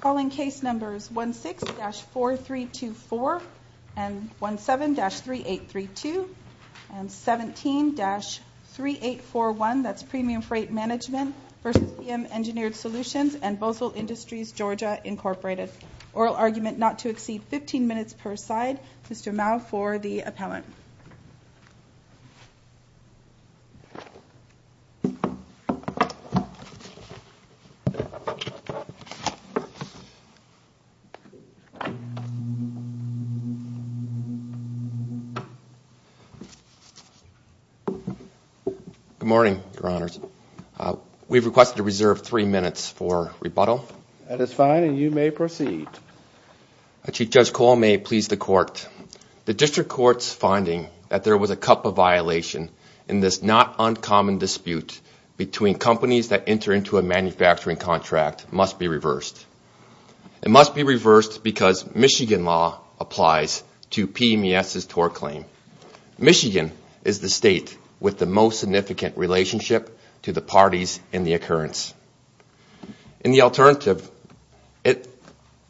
Calling case numbers 16-4324 and 17-3832 and 17-3841 that's Premium Freight Management v. PM Engineered Solutions and Bozell Industries Georgia Incorporated. Oral argument not to exceed 15 minutes per side. Mr. Mao for the appellant. Good morning, Your Honors. We've requested to reserve three minutes for rebuttal. That is fine and you may proceed. Chief Judge Cole may please the court. The District Court's finding that there was a cup of violation in this not uncommon dispute between companies that enter into a manufacturing contract must be reversed. It must be reversed because Michigan law applies to PMES's TOR claim. Michigan is the state with the most significant relationship to the parties in the occurrence. In the alternative,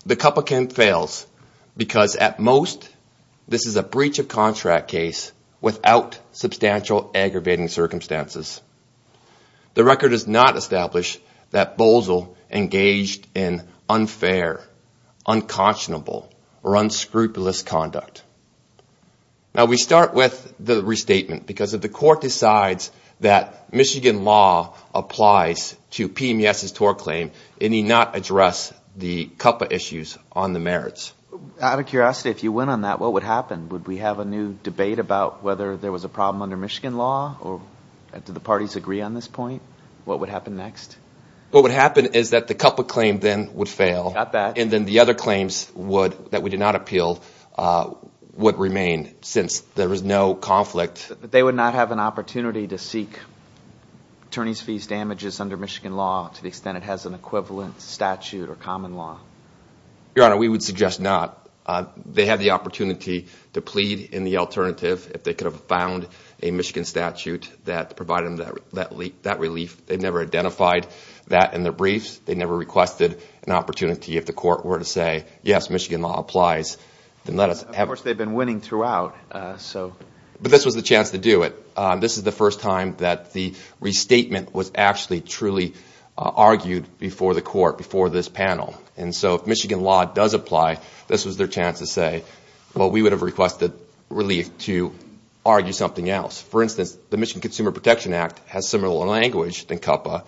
the cup of can fails because at most this is a breach of contract case without substantial aggravating circumstances. The record does not establish that Bozell engaged in unfair, unconscionable or unscrupulous conduct. Now we start with the restatement because if the court decides that Michigan law applies to PMES's TOR claim, it need not address the cup of issues on the merits. Out of curiosity, if you went on that, what would happen? Would we have a new debate about whether there was a problem under Michigan law or do the parties agree on this point? What would happen next? What would happen is that the cup of claim then would fail and then the other claims that we did not appeal would remain since there was no conflict. They would not have an opportunity to seek attorney's fees damages under Michigan law to the extent it has an equivalent statute or common law? Your Honor, we would suggest not. They had the opportunity to plead in the alternative if they could have found a Michigan statute that provided them that relief. They never identified that in their briefs. They never requested an opportunity if the court were to say, yes, Michigan law applies. Of course, they have been winning throughout. But this was the chance to do it. This is the first time that the restatement was actually truly argued before the court, before this panel. And so if Michigan law does apply, this was their chance to say, well, we would have requested relief to argue something else. For instance, the Michigan Consumer Protection Act has similar language than CUPA,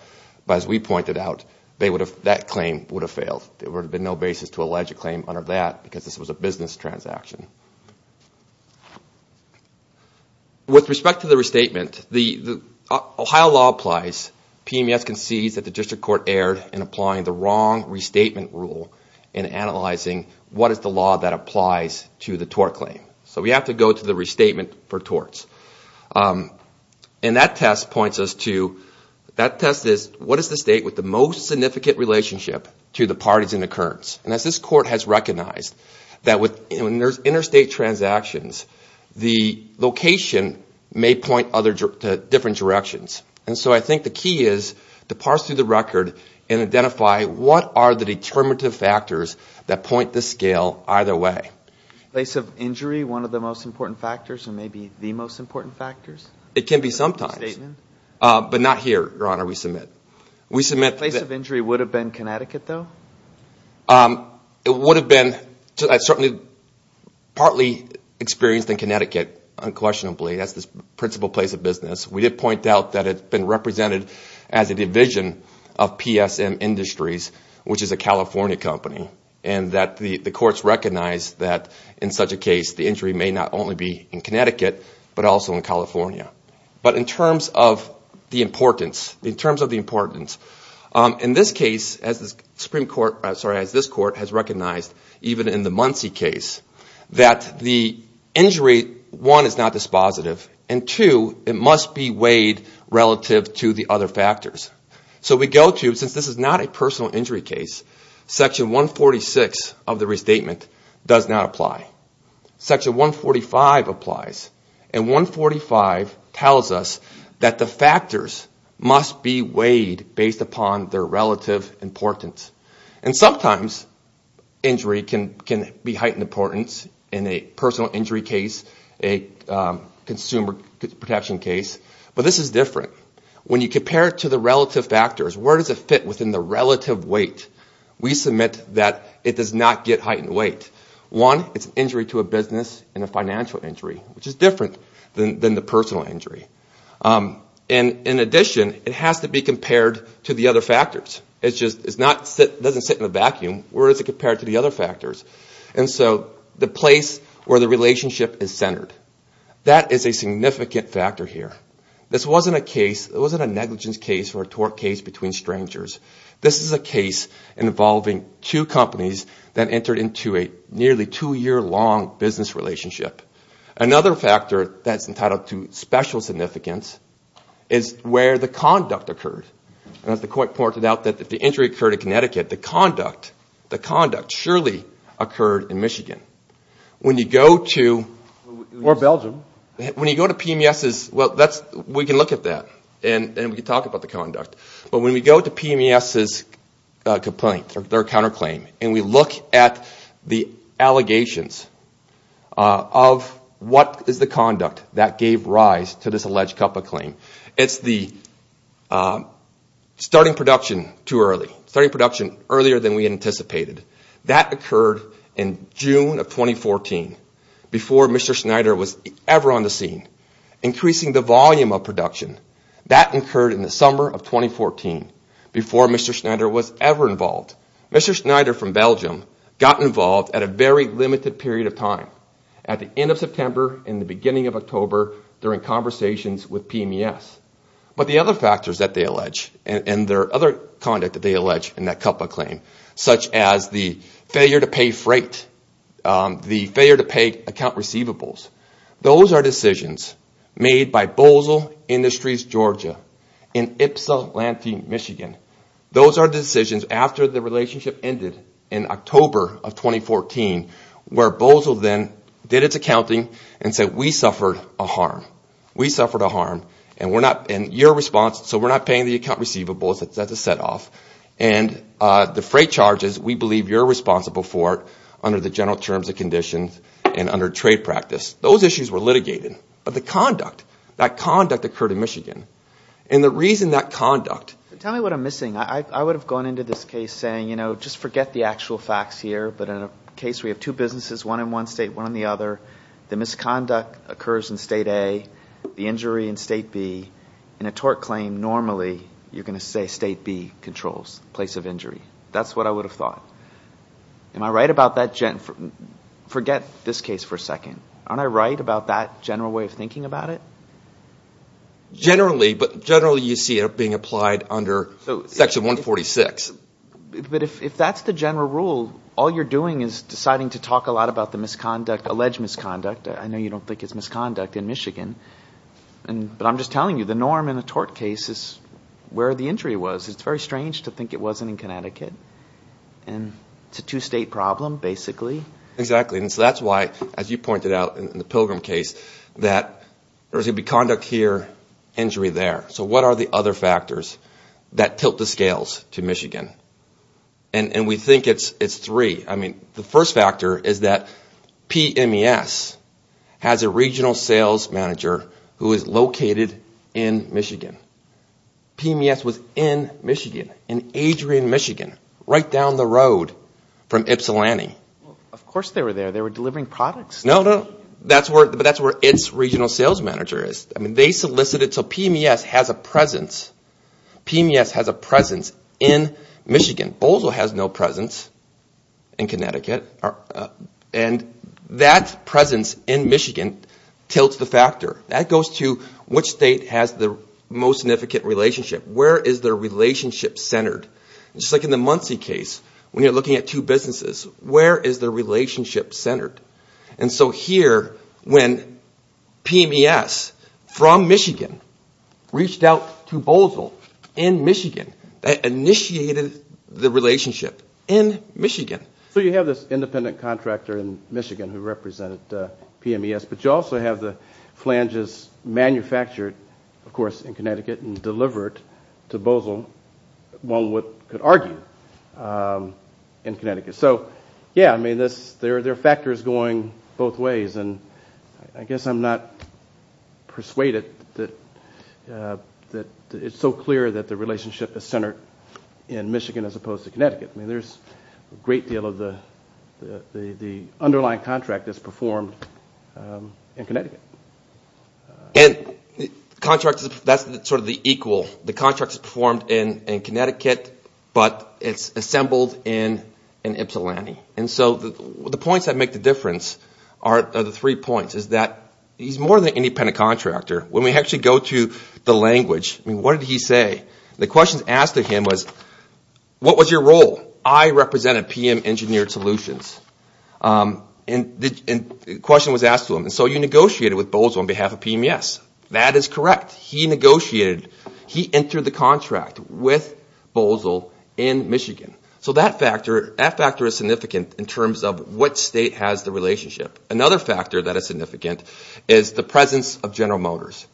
but as we pointed out, that claim would have failed. There would have been no basis to allege a claim under that because this was a business transaction. With respect to the restatement, the Ohio law applies. PMES concedes that the district court erred in applying the wrong restatement rule in analyzing what is the law that applies to the tort claim. So we have to go to the restatement for torts. And that test points us to, that test is, what is the state with the most significant relationship to the parties in occurrence? And as this court has recognized, that with interstate transactions, the location may point to different directions. And so I think the key is to parse through the record and identify what are the determinative factors that point the scale either way. Place of injury, one of the most important factors and maybe the most important factors? It can be sometimes. But not here, Your Honor, we submit. Place of injury would have been Connecticut though? It would have been certainly partly experienced in Connecticut, unquestionably. That's the principal place of business. We did point out that it's been represented as a division of PSM Industries, which is a California company. And that the courts recognize that in such a case, the injury may not only be in Connecticut but also in California. But in terms of the importance, in terms of the importance, in this case, as this court has recognized, even in the Muncie case, that the injury, one, is not dispositive. And two, it must be weighed relative to the other factors. So we go to, since this is not a personal injury case, section 146 of the restatement does not apply. Section 145 applies. And 145 tells us that the factors must be weighed based upon their relative importance. And sometimes injury can be heightened importance in a personal injury case, a consumer protection case. But this is different. When you compare it to the relative factors, where does it fit within the relative weight? We submit that it does not get heightened weight. One, it's an injury to a business and a financial injury, which is different than the personal injury. And in addition, it has to be compared to the other factors. It doesn't sit in a vacuum. Where is it compared to the other factors? And so the place where the relationship is centered, that is a significant factor here. This wasn't a case, it wasn't a negligence case or a tort case between strangers. This is a case involving two companies that entered into a nearly two-year-long business relationship. Another factor that's entitled to special significance is where the conduct occurred. And as the court pointed out, that if the injury occurred in Connecticut, the conduct surely occurred in Michigan. When you go to... Or Belgium. When you go to PMS's, well, we can look at that and we can talk about the conduct. But when we go to PMS's complaint, their counterclaim, and we look at the allegations of what is the conduct that gave rise to this alleged COPPA claim, it's the starting production too early. Starting production earlier than we anticipated. That occurred in June of 2014, before Mr. Schneider was ever on the scene. Increasing the volume of production. That occurred in the summer of 2014, before Mr. Schneider was ever involved. Mr. Schneider from Belgium got involved at a very limited period of time. At the end of September and the beginning of October, during conversations with PMS. But the other factors that they allege, and their other conduct that they allege in that COPPA claim, such as the failure to pay freight, the failure to pay account receivables, those are decisions made by Bozell Industries, Georgia, in Ypsilanti, Michigan. Those are decisions after the relationship ended in October of 2014, where Bozell then did its accounting and said, we suffered a harm. We suffered a harm, and we're not... And your response, so we're not paying the account receivables, that's a set off. And the freight charges, we believe you're responsible for under the general terms and conditions and under trade practice. Those issues were litigated. But the conduct, that conduct occurred in Michigan. And the reason that conduct... Tell me what I'm missing. I would have gone into this case saying, you know, just forget the actual facts here. But in a case where you have two businesses, one in one state, one in the other, the misconduct occurs in state A, the injury in state B. In a tort claim, normally, you're going to say state B controls the place of injury. That's what I would have thought. Am I right about that? Forget this case for a second. Aren't I right about that general way of thinking about it? Generally, but generally you see it being applied under Section 146. But if that's the general rule, all you're doing is deciding to talk a lot about the misconduct, alleged misconduct. I know you don't think it's misconduct in Michigan. But I'm just telling you, the norm in a tort case is where the injury was. It's very strange to think it wasn't in Connecticut. And it's a two-state problem, basically. Exactly, and so that's why, as you pointed out in the Pilgrim case, that there's going to be conduct here, injury there. So what are the other factors that tilt the scales to Michigan? And we think it's three. I mean, the first factor is that PMES has a regional sales manager who is located in Michigan. PMES was in Michigan, in Adrian, Michigan, right down the road from Ypsilanti. Of course they were there. They were delivering products. No, no, but that's where its regional sales manager is. I mean, they solicited. So PMES has a presence. PMES has a presence in Michigan. Bozo has no presence in Connecticut. And that presence in Michigan tilts the factor. That goes to which state has the most significant relationship. Where is their relationship centered? Just like in the Muncie case, when you're looking at two businesses, where is their relationship centered? And so here, when PMES from Michigan reached out to Bozo in Michigan, that initiated the relationship in Michigan. So you have this independent contractor in Michigan who represented PMES, but you also have the flanges manufactured, of course, in Connecticut and delivered to Bozo, one could argue, in Connecticut. So, yeah, I mean, there are factors going both ways, and I guess I'm not persuaded that it's so clear that the relationship is centered in Michigan as opposed to Connecticut. I mean, there's a great deal of the underlying contract that's performed in Connecticut. And that's sort of the equal. The contract is performed in Connecticut, but it's assembled in Ypsilanti. And so the points that make the difference are the three points, is that he's more than an independent contractor. When we actually go to the language, I mean, what did he say? The question asked to him was, what was your role? I represented PM Engineered Solutions. And the question was asked to him. And so you negotiated with Bozo on behalf of PMES. That is correct. He negotiated. He entered the contract with Bozo in Michigan. So that factor is significant in terms of what state has the relationship. Another factor that is significant is the presence of General Motors.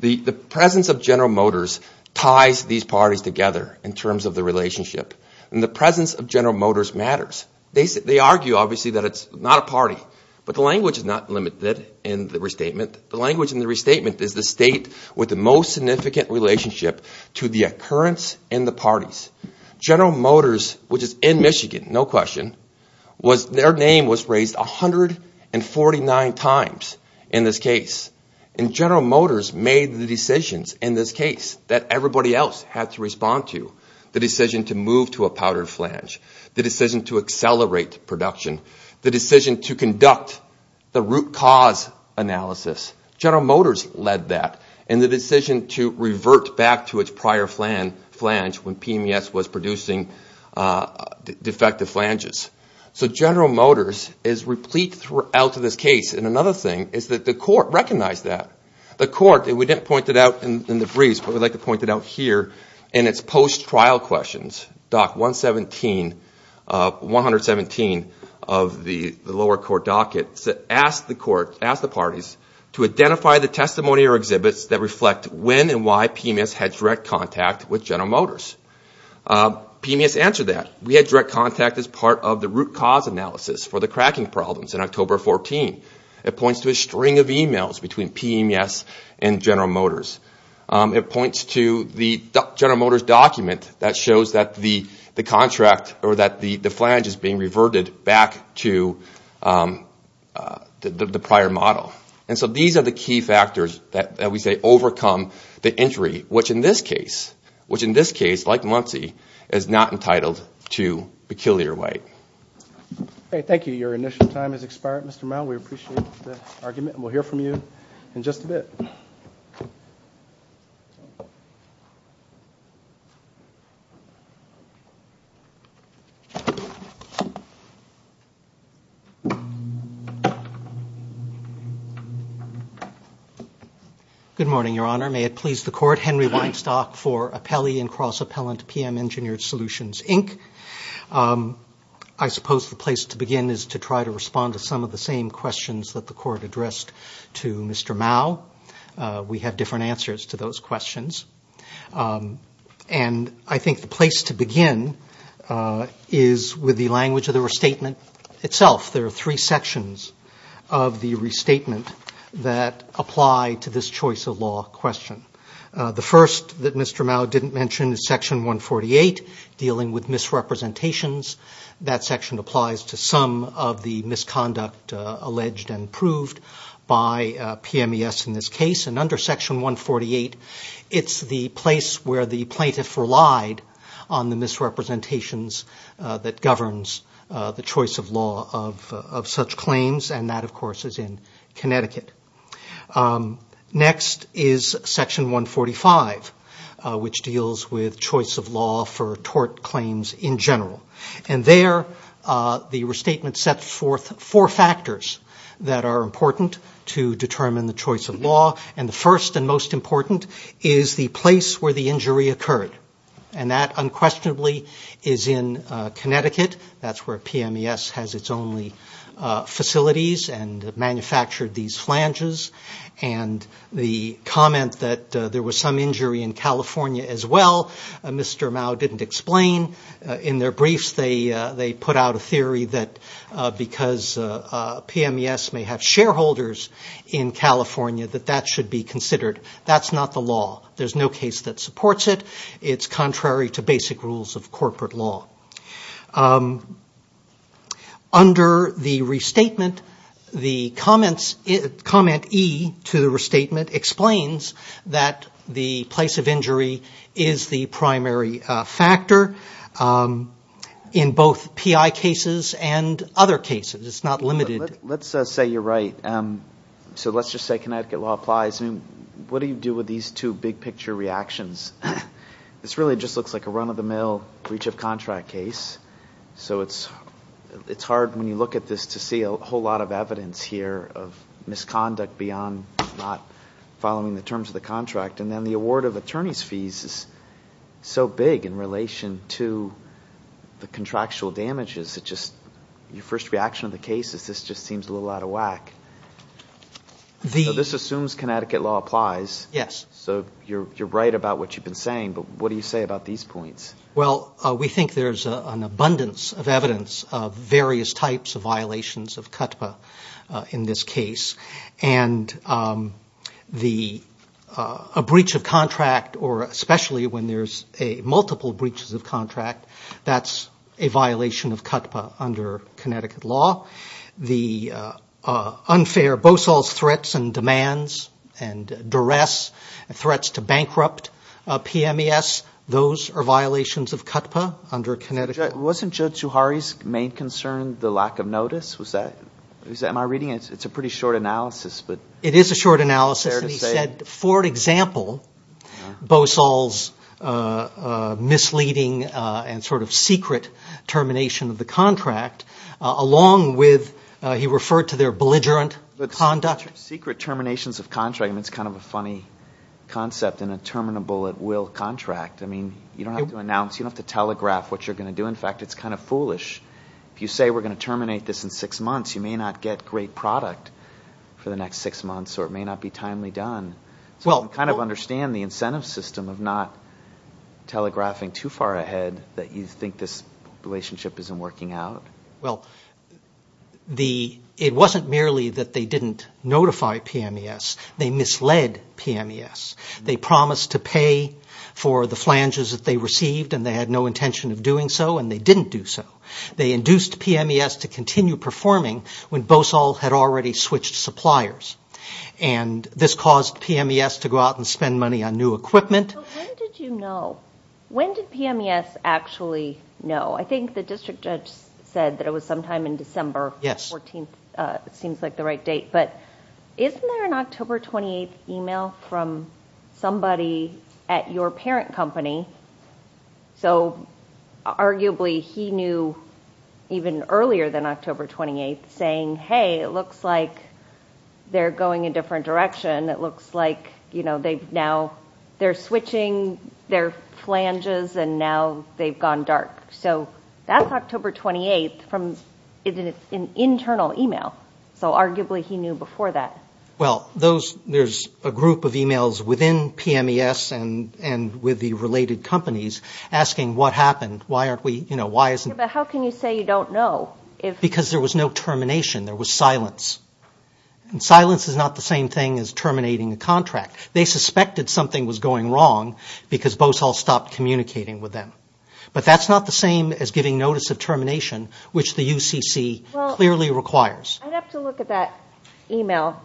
The presence of General Motors ties these parties together in terms of the relationship. And the presence of General Motors matters. They argue, obviously, that it's not a party. But the language is not limited in the restatement. The language in the restatement is the state with the most significant relationship to the occurrence and the parties. General Motors, which is in Michigan, no question, their name was raised 149 times in this case. And General Motors made the decisions in this case that everybody else had to respond to. The decision to move to a powdered flange. The decision to accelerate production. The decision to conduct the root cause analysis. General Motors led that. And the decision to revert back to its prior flange when PMES was producing defective flanges. So General Motors is replete throughout this case. And another thing is that the court recognized that. The court, and we didn't point it out in the briefs, but we'd like to point it out here in its post-trial questions, Doc 117 of the lower court docket asked the court, asked the parties, to identify the testimony or exhibits that reflect when and why PMES had direct contact with General Motors. PMES answered that. We had direct contact as part of the root cause analysis for the cracking problems in October 14. It points to a string of emails between PMES and General Motors. It points to the General Motors document that shows that the contract or that the flange is being reverted back to the prior model. And so these are the key factors that we say overcome the injury, which in this case, like Muncie, is not entitled to Peculiar White. Thank you. Your initial time has expired, Mr. Mouw. We appreciate the argument, and we'll hear from you in just a bit. Good morning, Your Honor. May it please the court. Henry Weinstock for Appellee and Cross-Appellant PM Engineered Solutions, Inc. I suppose the place to begin is to try to respond to some of the same questions that the court addressed to Mr. Mouw. We have different answers to those questions. And I think the place to begin is with the language of the restatement itself. There are three sections of the restatement that apply to this choice of law question. The first that Mr. Mouw didn't mention is Section 148, dealing with misrepresentations. That section applies to some of the misconduct alleged and proved by PMES in this case. And under Section 148, it's the place where the plaintiff relied on the misrepresentations that governs the choice of law of such claims, and that, of course, is in Connecticut. Next is Section 145, which deals with choice of law for tort claims in general. And there, the restatement sets forth four factors that are important to determine the choice of law. And the first and most important is the place where the injury occurred. And that unquestionably is in Connecticut. That's where PMES has its only facilities and manufactured these flanges. And the comment that there was some injury in California as well, Mr. Mouw didn't explain. In their briefs, they put out a theory that because PMES may have shareholders in California, that that should be considered. That's not the law. There's no case that supports it. It's contrary to basic rules of corporate law. Under the restatement, the comment E to the restatement explains that the place of injury is the primary factor in both PI cases and other cases. It's not limited. Let's say you're right. So let's just say Connecticut law applies. What do you do with these two big-picture reactions? This really just looks like a run-of-the-mill breach of contract case. So it's hard when you look at this to see a whole lot of evidence here of misconduct beyond not following the terms of the contract. And then the award of attorney's fees is so big in relation to the contractual damages. Your first reaction to the case is this just seems a little out of whack. So this assumes Connecticut law applies. Yes. So you're right about what you've been saying, but what do you say about these points? Well, we think there's an abundance of evidence of various types of violations of CUTPA in this case. And a breach of contract, or especially when there's multiple breaches of contract, that's a violation of CUTPA under Connecticut law. The unfair Bosol's threats and demands and duress, threats to bankrupt PMES, those are violations of CUTPA under Connecticut law. Wasn't Joe Zuhari's main concern the lack of notice? Was that – am I reading it? It's a pretty short analysis, but is it fair to say – It is a short analysis. And he said, for example, Bosol's misleading and sort of secret termination of the contract, along with he referred to their belligerent conduct. Secret terminations of contract, I mean, it's kind of a funny concept in a terminable at will contract. I mean, you don't have to announce, you don't have to telegraph what you're going to do. In fact, it's kind of foolish. If you say we're going to terminate this in six months, you may not get great product for the next six months, or it may not be timely done. So you kind of understand the incentive system of not telegraphing too far ahead that you think this relationship isn't working out. Well, it wasn't merely that they didn't notify PMES. They misled PMES. They promised to pay for the flanges that they received, and they had no intention of doing so, and they didn't do so. They induced PMES to continue performing when Bosol had already switched suppliers. And this caused PMES to go out and spend money on new equipment. When did you know? When did PMES actually know? I think the district judge said that it was sometime in December. Yes. 14th seems like the right date. But isn't there an October 28th email from somebody at your parent company? So arguably he knew even earlier than October 28th, saying, hey, it looks like they're going a different direction. It looks like they're switching their flanges, and now they've gone dark. So that's October 28th from an internal email. So arguably he knew before that. Well, there's a group of emails within PMES and with the related companies asking what happened, why aren't we, you know, why isn't- But how can you say you don't know if- Because there was no termination. There was silence. And silence is not the same thing as terminating a contract. They suspected something was going wrong because Bosol stopped communicating with them. But that's not the same as giving notice of termination, which the UCC clearly requires. I'd have to look at that email.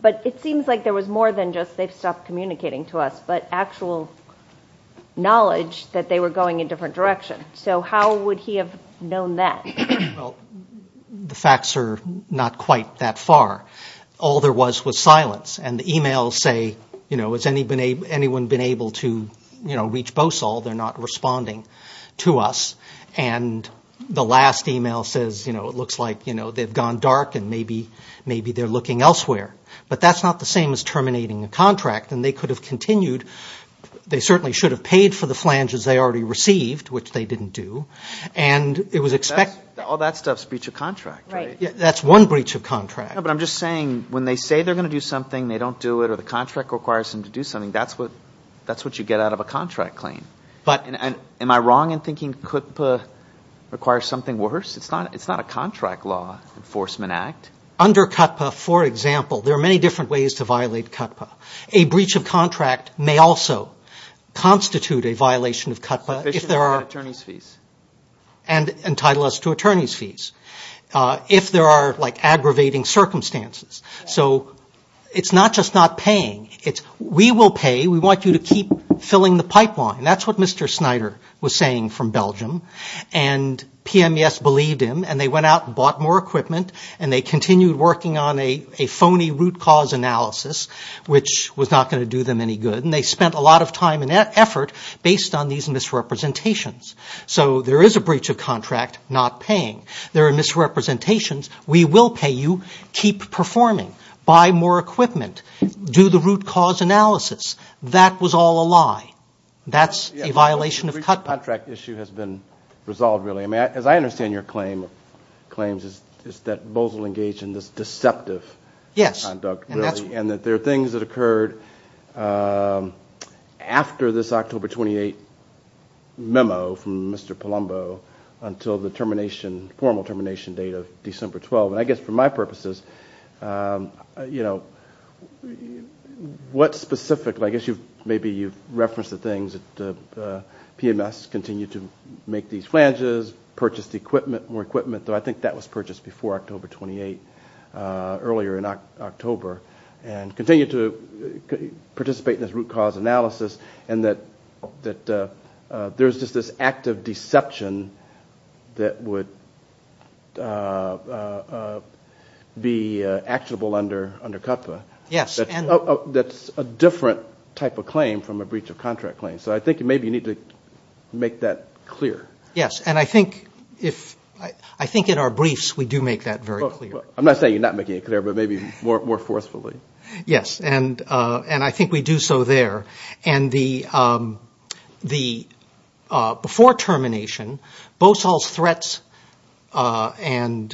But it seems like there was more than just they've stopped communicating to us, but actual knowledge that they were going a different direction. So how would he have known that? Well, the facts are not quite that far. All there was was silence. And the emails say, you know, has anyone been able to, you know, reach Bosol? They're not responding to us. And the last email says, you know, it looks like, you know, they've gone dark and maybe they're looking elsewhere. But that's not the same as terminating a contract. And they could have continued. They certainly should have paid for the flanges they already received, which they didn't do. And it was expected- All that stuff's breach of contract, right? That's one breach of contract. No, but I'm just saying when they say they're going to do something, they don't do it, or the contract requires them to do something, that's what you get out of a contract claim. Am I wrong in thinking CUTPA requires something worse? It's not a contract law enforcement act. Under CUTPA, for example, there are many different ways to violate CUTPA. A breach of contract may also constitute a violation of CUTPA if there are- And entitle us to attorney's fees. And entitle us to attorney's fees if there are, like, aggravating circumstances. So it's not just not paying. We will pay. We want you to keep filling the pipeline. That's what Mr. Snyder was saying from Belgium. And PMES believed him. And they went out and bought more equipment. And they continued working on a phony root cause analysis, which was not going to do them any good. And they spent a lot of time and effort based on these misrepresentations. So there is a breach of contract not paying. There are misrepresentations. We will pay you. Keep performing. Buy more equipment. Do the root cause analysis. That was all a lie. That's a violation of CUTPA. The breach of contract issue has been resolved, really. I mean, as I understand your claims, it's that Bozell engaged in this deceptive conduct. Yes. And that there are things that occurred after this October 28 memo from Mr. Palumbo until the termination, formal termination date of December 12. And I guess for my purposes, you know, what specifically? I guess maybe you've referenced the things that PMES continued to make these flanges, purchased equipment, more equipment, though I think that was purchased before October 28, earlier in October, and continued to participate in this root cause analysis, and that there's just this act of deception that would be actionable under CUTPA. Yes. That's a different type of claim from a breach of contract claim. So I think maybe you need to make that clear. Yes. And I think in our briefs we do make that very clear. I'm not saying you're not making it clear, but maybe more forcefully. Yes. And I think we do so there. And before termination, BOSOL's threats and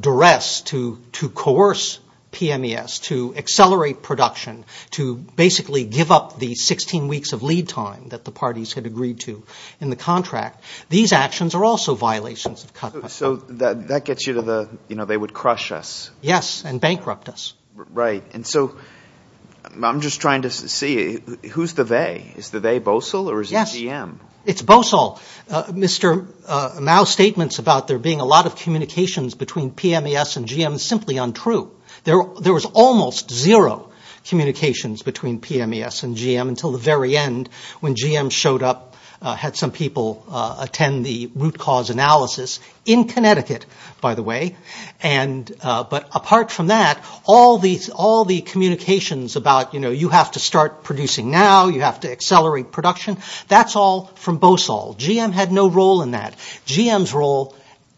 duress to coerce PMES to accelerate production, to basically give up the 16 weeks of lead time that the parties had agreed to in the contract, these actions are also violations of CUTPA. So that gets you to the, you know, they would crush us. Yes, and bankrupt us. Right. And so I'm just trying to see, who's the they? Is the they BOSOL or is it GM? Yes. It's BOSOL. Mr. Mao's statements about there being a lot of communications between PMES and GM is simply untrue. There was almost zero communications between PMES and GM until the very end when GM showed up, had some people attend the root cause analysis, in Connecticut, by the way. But apart from that, all the communications about, you know, you have to start producing now, you have to accelerate production, that's all from BOSOL. GM had no role in that. GM's role,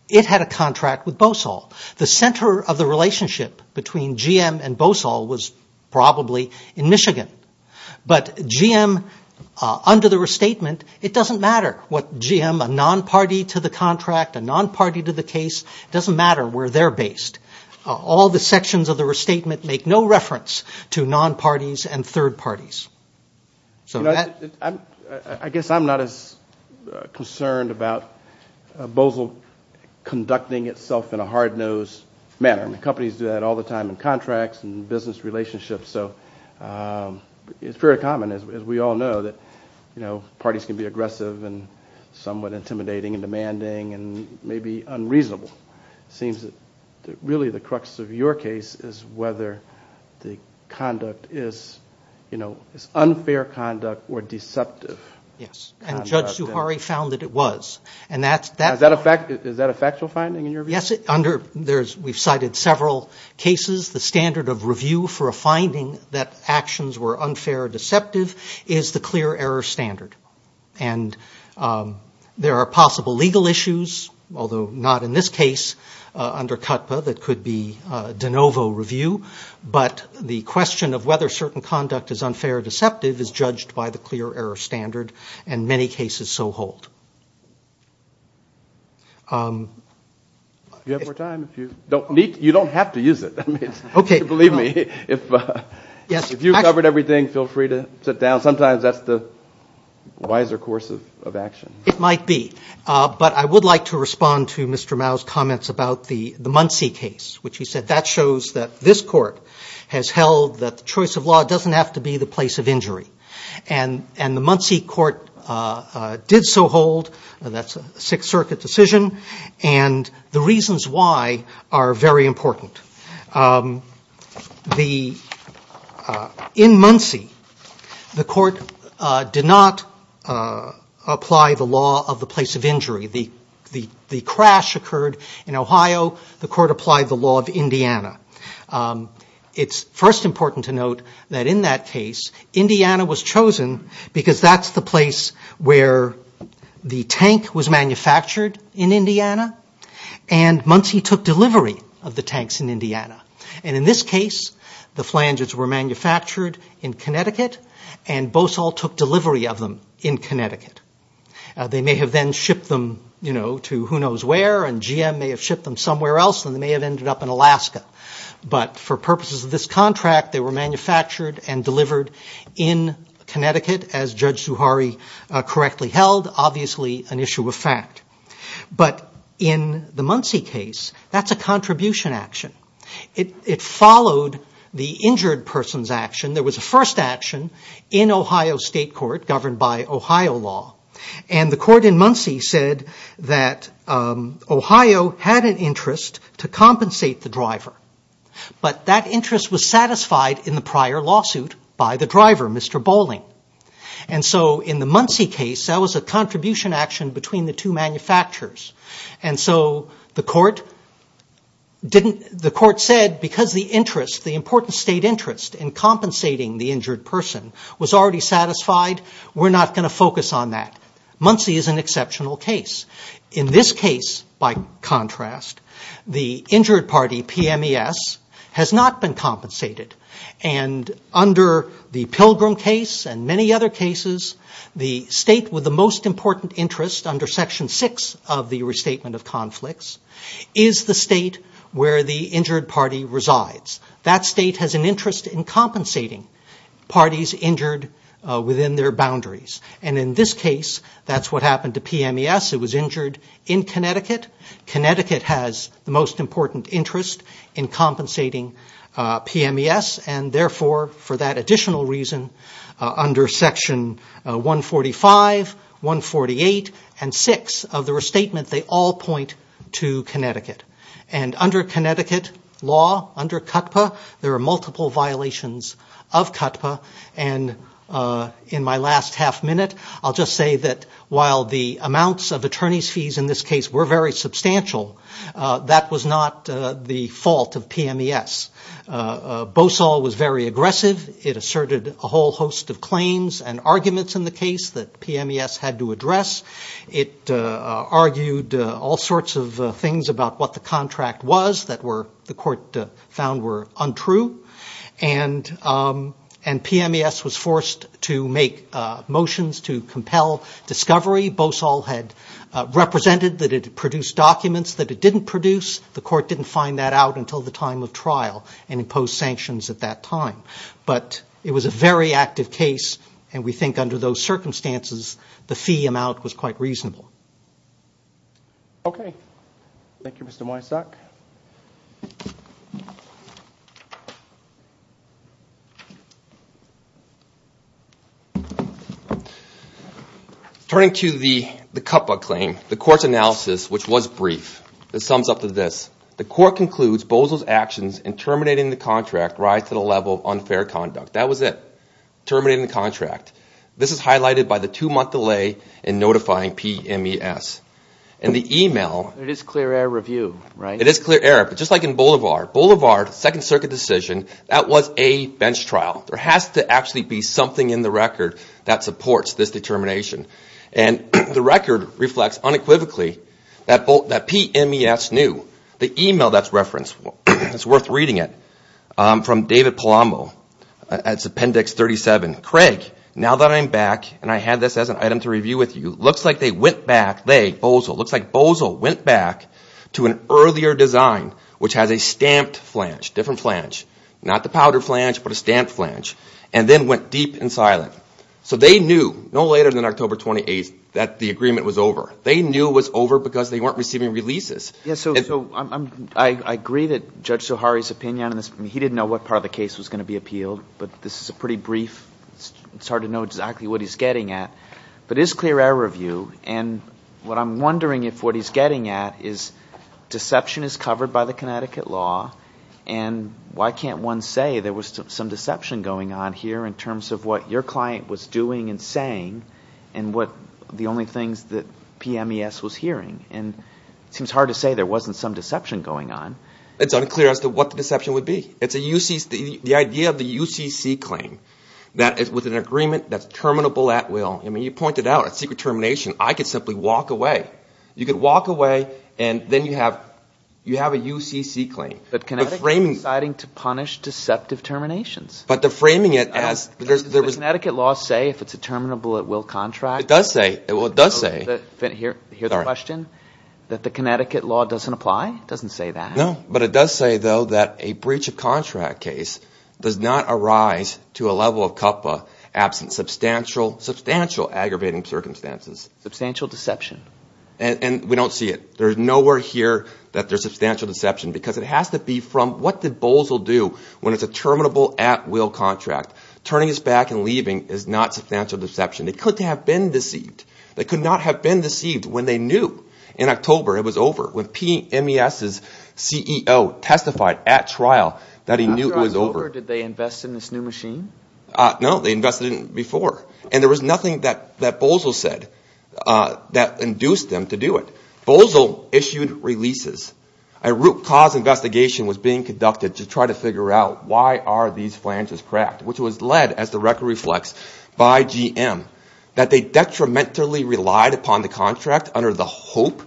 it had a contract with BOSOL. The center of the relationship between GM and BOSOL was probably in Michigan. But GM, under the restatement, it doesn't matter what GM, a non-party to the contract, a non-party to the case, it doesn't matter where they're based. All the sections of the restatement make no reference to non-parties and third parties. I guess I'm not as concerned about BOSOL conducting itself in a hard-nosed manner. Companies do that all the time in contracts and business relationships. So it's very common, as we all know, that, you know, parties can be aggressive and somewhat intimidating and demanding and maybe unreasonable. It seems that really the crux of your case is whether the conduct is, you know, is unfair conduct or deceptive conduct. Yes, and Judge Zuhari found that it was. Is that a factual finding in your view? Yes. We've cited several cases. The standard of review for a finding that actions were unfair or deceptive is the clear error standard. And there are possible legal issues, although not in this case under CUTPA, that could be de novo review. But the question of whether certain conduct is unfair or deceptive is judged by the clear error standard, and many cases so hold. Do you have more time? You don't have to use it. Believe me, if you covered everything, feel free to sit down. Sometimes that's the wiser course of action. It might be. But I would like to respond to Mr. Mao's comments about the Muncie case, which he said that shows that this court has held that the choice of law doesn't have to be the place of injury. And the Muncie court did so hold. That's a Sixth Circuit decision. And the reasons why are very important. In Muncie, the court did not apply the law of the place of injury. The crash occurred in Ohio. The court applied the law of Indiana. It's first important to note that in that case, Indiana was chosen because that's the place where the tank was manufactured in Indiana. And Muncie took delivery of the tanks in Indiana. And in this case, the flanges were manufactured in Connecticut, and Bosol took delivery of them in Connecticut. They may have then shipped them to who knows where, and GM may have shipped them somewhere else, and they may have ended up in Alaska. But for purposes of this contract, they were manufactured and delivered in Connecticut, as Judge Zuhari correctly held, obviously an issue of fact. But in the Muncie case, that's a contribution action. It followed the injured person's action. There was a first action in Ohio State Court governed by Ohio law. And the court in Muncie said that Ohio had an interest to compensate the driver. But that interest was satisfied in the prior lawsuit by the driver, Mr. Bolling. And so in the Muncie case, that was a contribution action between the two manufacturers. And so the court said because the interest, the important state interest in compensating the injured person was already satisfied, we're not going to focus on that. Muncie is an exceptional case. In this case, by contrast, the injured party, PMES, has not been compensated. And under the Pilgrim case and many other cases, the state with the most important interest under Section 6 of the Restatement of Conflicts is the state where the injured party resides. That state has an interest in compensating parties injured within their boundaries. And in this case, that's what happened to PMES. It was injured in Connecticut. Connecticut has the most important interest in compensating PMES. And therefore, for that additional reason, under Section 145, 148, and 6 of the Restatement, they all point to Connecticut. And under Connecticut law, under CUTPA, there are multiple violations of CUTPA. And in my last half minute, I'll just say that while the amounts of attorney's fees in this case were very substantial, that was not the fault of PMES. Bosol was very aggressive. It asserted a whole host of claims and arguments in the case that PMES had to address. It argued all sorts of things about what the contract was that the court found were untrue. And PMES was forced to make motions to compel discovery. Bosol had represented that it produced documents that it didn't produce. The court didn't find that out until the time of trial and imposed sanctions at that time. But it was a very active case, and we think under those circumstances, the fee amount was quite reasonable. Okay. Thank you, Mr. Moyasek. Turning to the CUTPA claim, the court's analysis, which was brief, sums up to this. The court concludes Bosol's actions in terminating the contract rise to the level of unfair conduct. That was it. Terminating the contract. This is highlighted by the two-month delay in notifying PMES. And the email... It is clear error review, right? It is clear error, but just like in Bolivar. Bolivar, second circuit decision, that was a bench trial. There has to actually be something in the record that supports this determination. And the record reflects unequivocally that PMES knew. The email that's referenced, it's worth reading it, from David Palambo. It's appendix 37. Craig, now that I'm back, and I had this as an item to review with you, looks like they went back, they, Bosol, looks like Bosol went back to an earlier design, which has a stamped flange, different flange, not the powder flange, but a stamped flange, and then went deep and silent. So they knew no later than October 28th that the agreement was over. They knew it was over because they weren't receiving releases. Yes, so I agree that Judge Zuhari's opinion on this, he didn't know what part of the case was going to be appealed, but this is a pretty brief, it's hard to know exactly what he's getting at, but it's clear error of view. And what I'm wondering if what he's getting at is deception is covered by the Connecticut law, and why can't one say there was some deception going on here in terms of what your client was doing and saying and what the only things that PMES was hearing? And it seems hard to say there wasn't some deception going on. It's unclear as to what the deception would be. It's the idea of the UCC claim with an agreement that's terminable at will. I mean, you pointed out a secret termination. I could simply walk away. You could walk away, and then you have a UCC claim. But Connecticut is deciding to punish deceptive terminations. But the framing it as there was – Does the Connecticut law say if it's a terminable at will contract? It does say. Well, it does say. Here's the question. That the Connecticut law doesn't apply? It doesn't say that. No, but it does say, though, that a breach of contract case does not arise to a level of cuppa absent substantial, substantial aggravating circumstances. Substantial deception. And we don't see it. There's nowhere here that there's substantial deception because it has to be from what the bowls will do when it's a terminable at will contract. Turning us back and leaving is not substantial deception. They couldn't have been deceived. They could not have been deceived when they knew in October it was over, when PMES's CEO testified at trial that he knew it was over. After October, did they invest in this new machine? No, they invested in it before. And there was nothing that Boesel said that induced them to do it. Boesel issued releases. A root cause investigation was being conducted to try to figure out why are these flanges cracked, which was led, as the record reflects, by GM. That they detrimentally relied upon the contract under the hope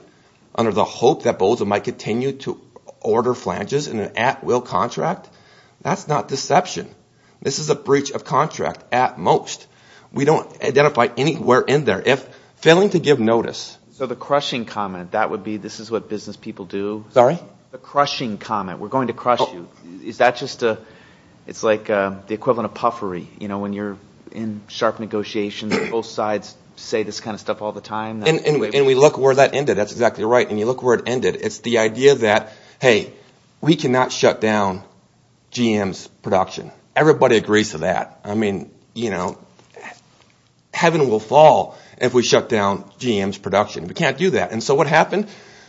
that Boesel might continue to order flanges in an at will contract, that's not deception. This is a breach of contract at most. We don't identify anywhere in there. If failing to give notice. So the crushing comment, that would be this is what business people do? Sorry? The crushing comment. We're going to crush you. Is that just a, it's like the equivalent of puffery. You know, when you're in sharp negotiations, both sides say this kind of stuff all the time. And we look where that ended. That's exactly right. And you look where it ended. It's the idea that, hey, we cannot shut down GM's production. Everybody agrees to that. I mean, you know, heaven will fall if we shut down GM's production. We can't do that. And so what happened?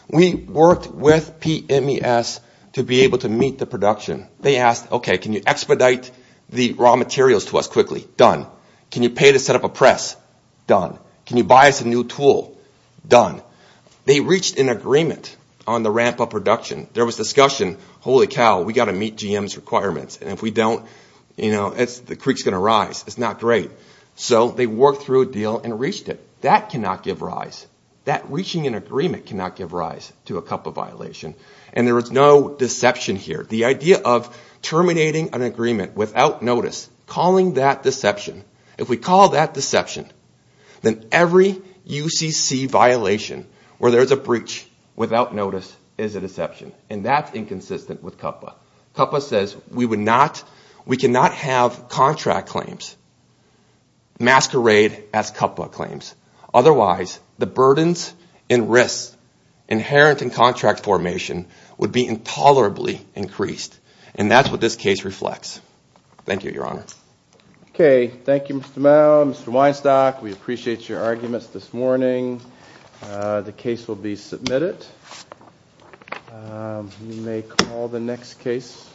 We worked with PMES to be able to meet the production. They asked, okay, can you expedite the raw materials to us quickly? Done. Can you pay to set up a press? Done. Can you buy us a new tool? Done. They reached an agreement on the ramp of production. There was discussion, holy cow, we've got to meet GM's requirements. And if we don't, you know, the creek's going to rise. It's not great. So they worked through a deal and reached it. That cannot give rise. That reaching an agreement cannot give rise to a cup of violation. And there is no deception here. The idea of terminating an agreement without notice, calling that deception. If we call that deception, then every UCC violation where there's a breach without notice is a deception. And that's inconsistent with CUPPA. CUPPA says we cannot have contract claims masquerade as CUPPA claims. Otherwise, the burdens and risks inherent in contract formation would be tolerably increased. And that's what this case reflects. Thank you, Your Honor. Okay. Thank you, Mr. Mao, Mr. Weinstock. We appreciate your arguments this morning. The case will be submitted. We may call the next case.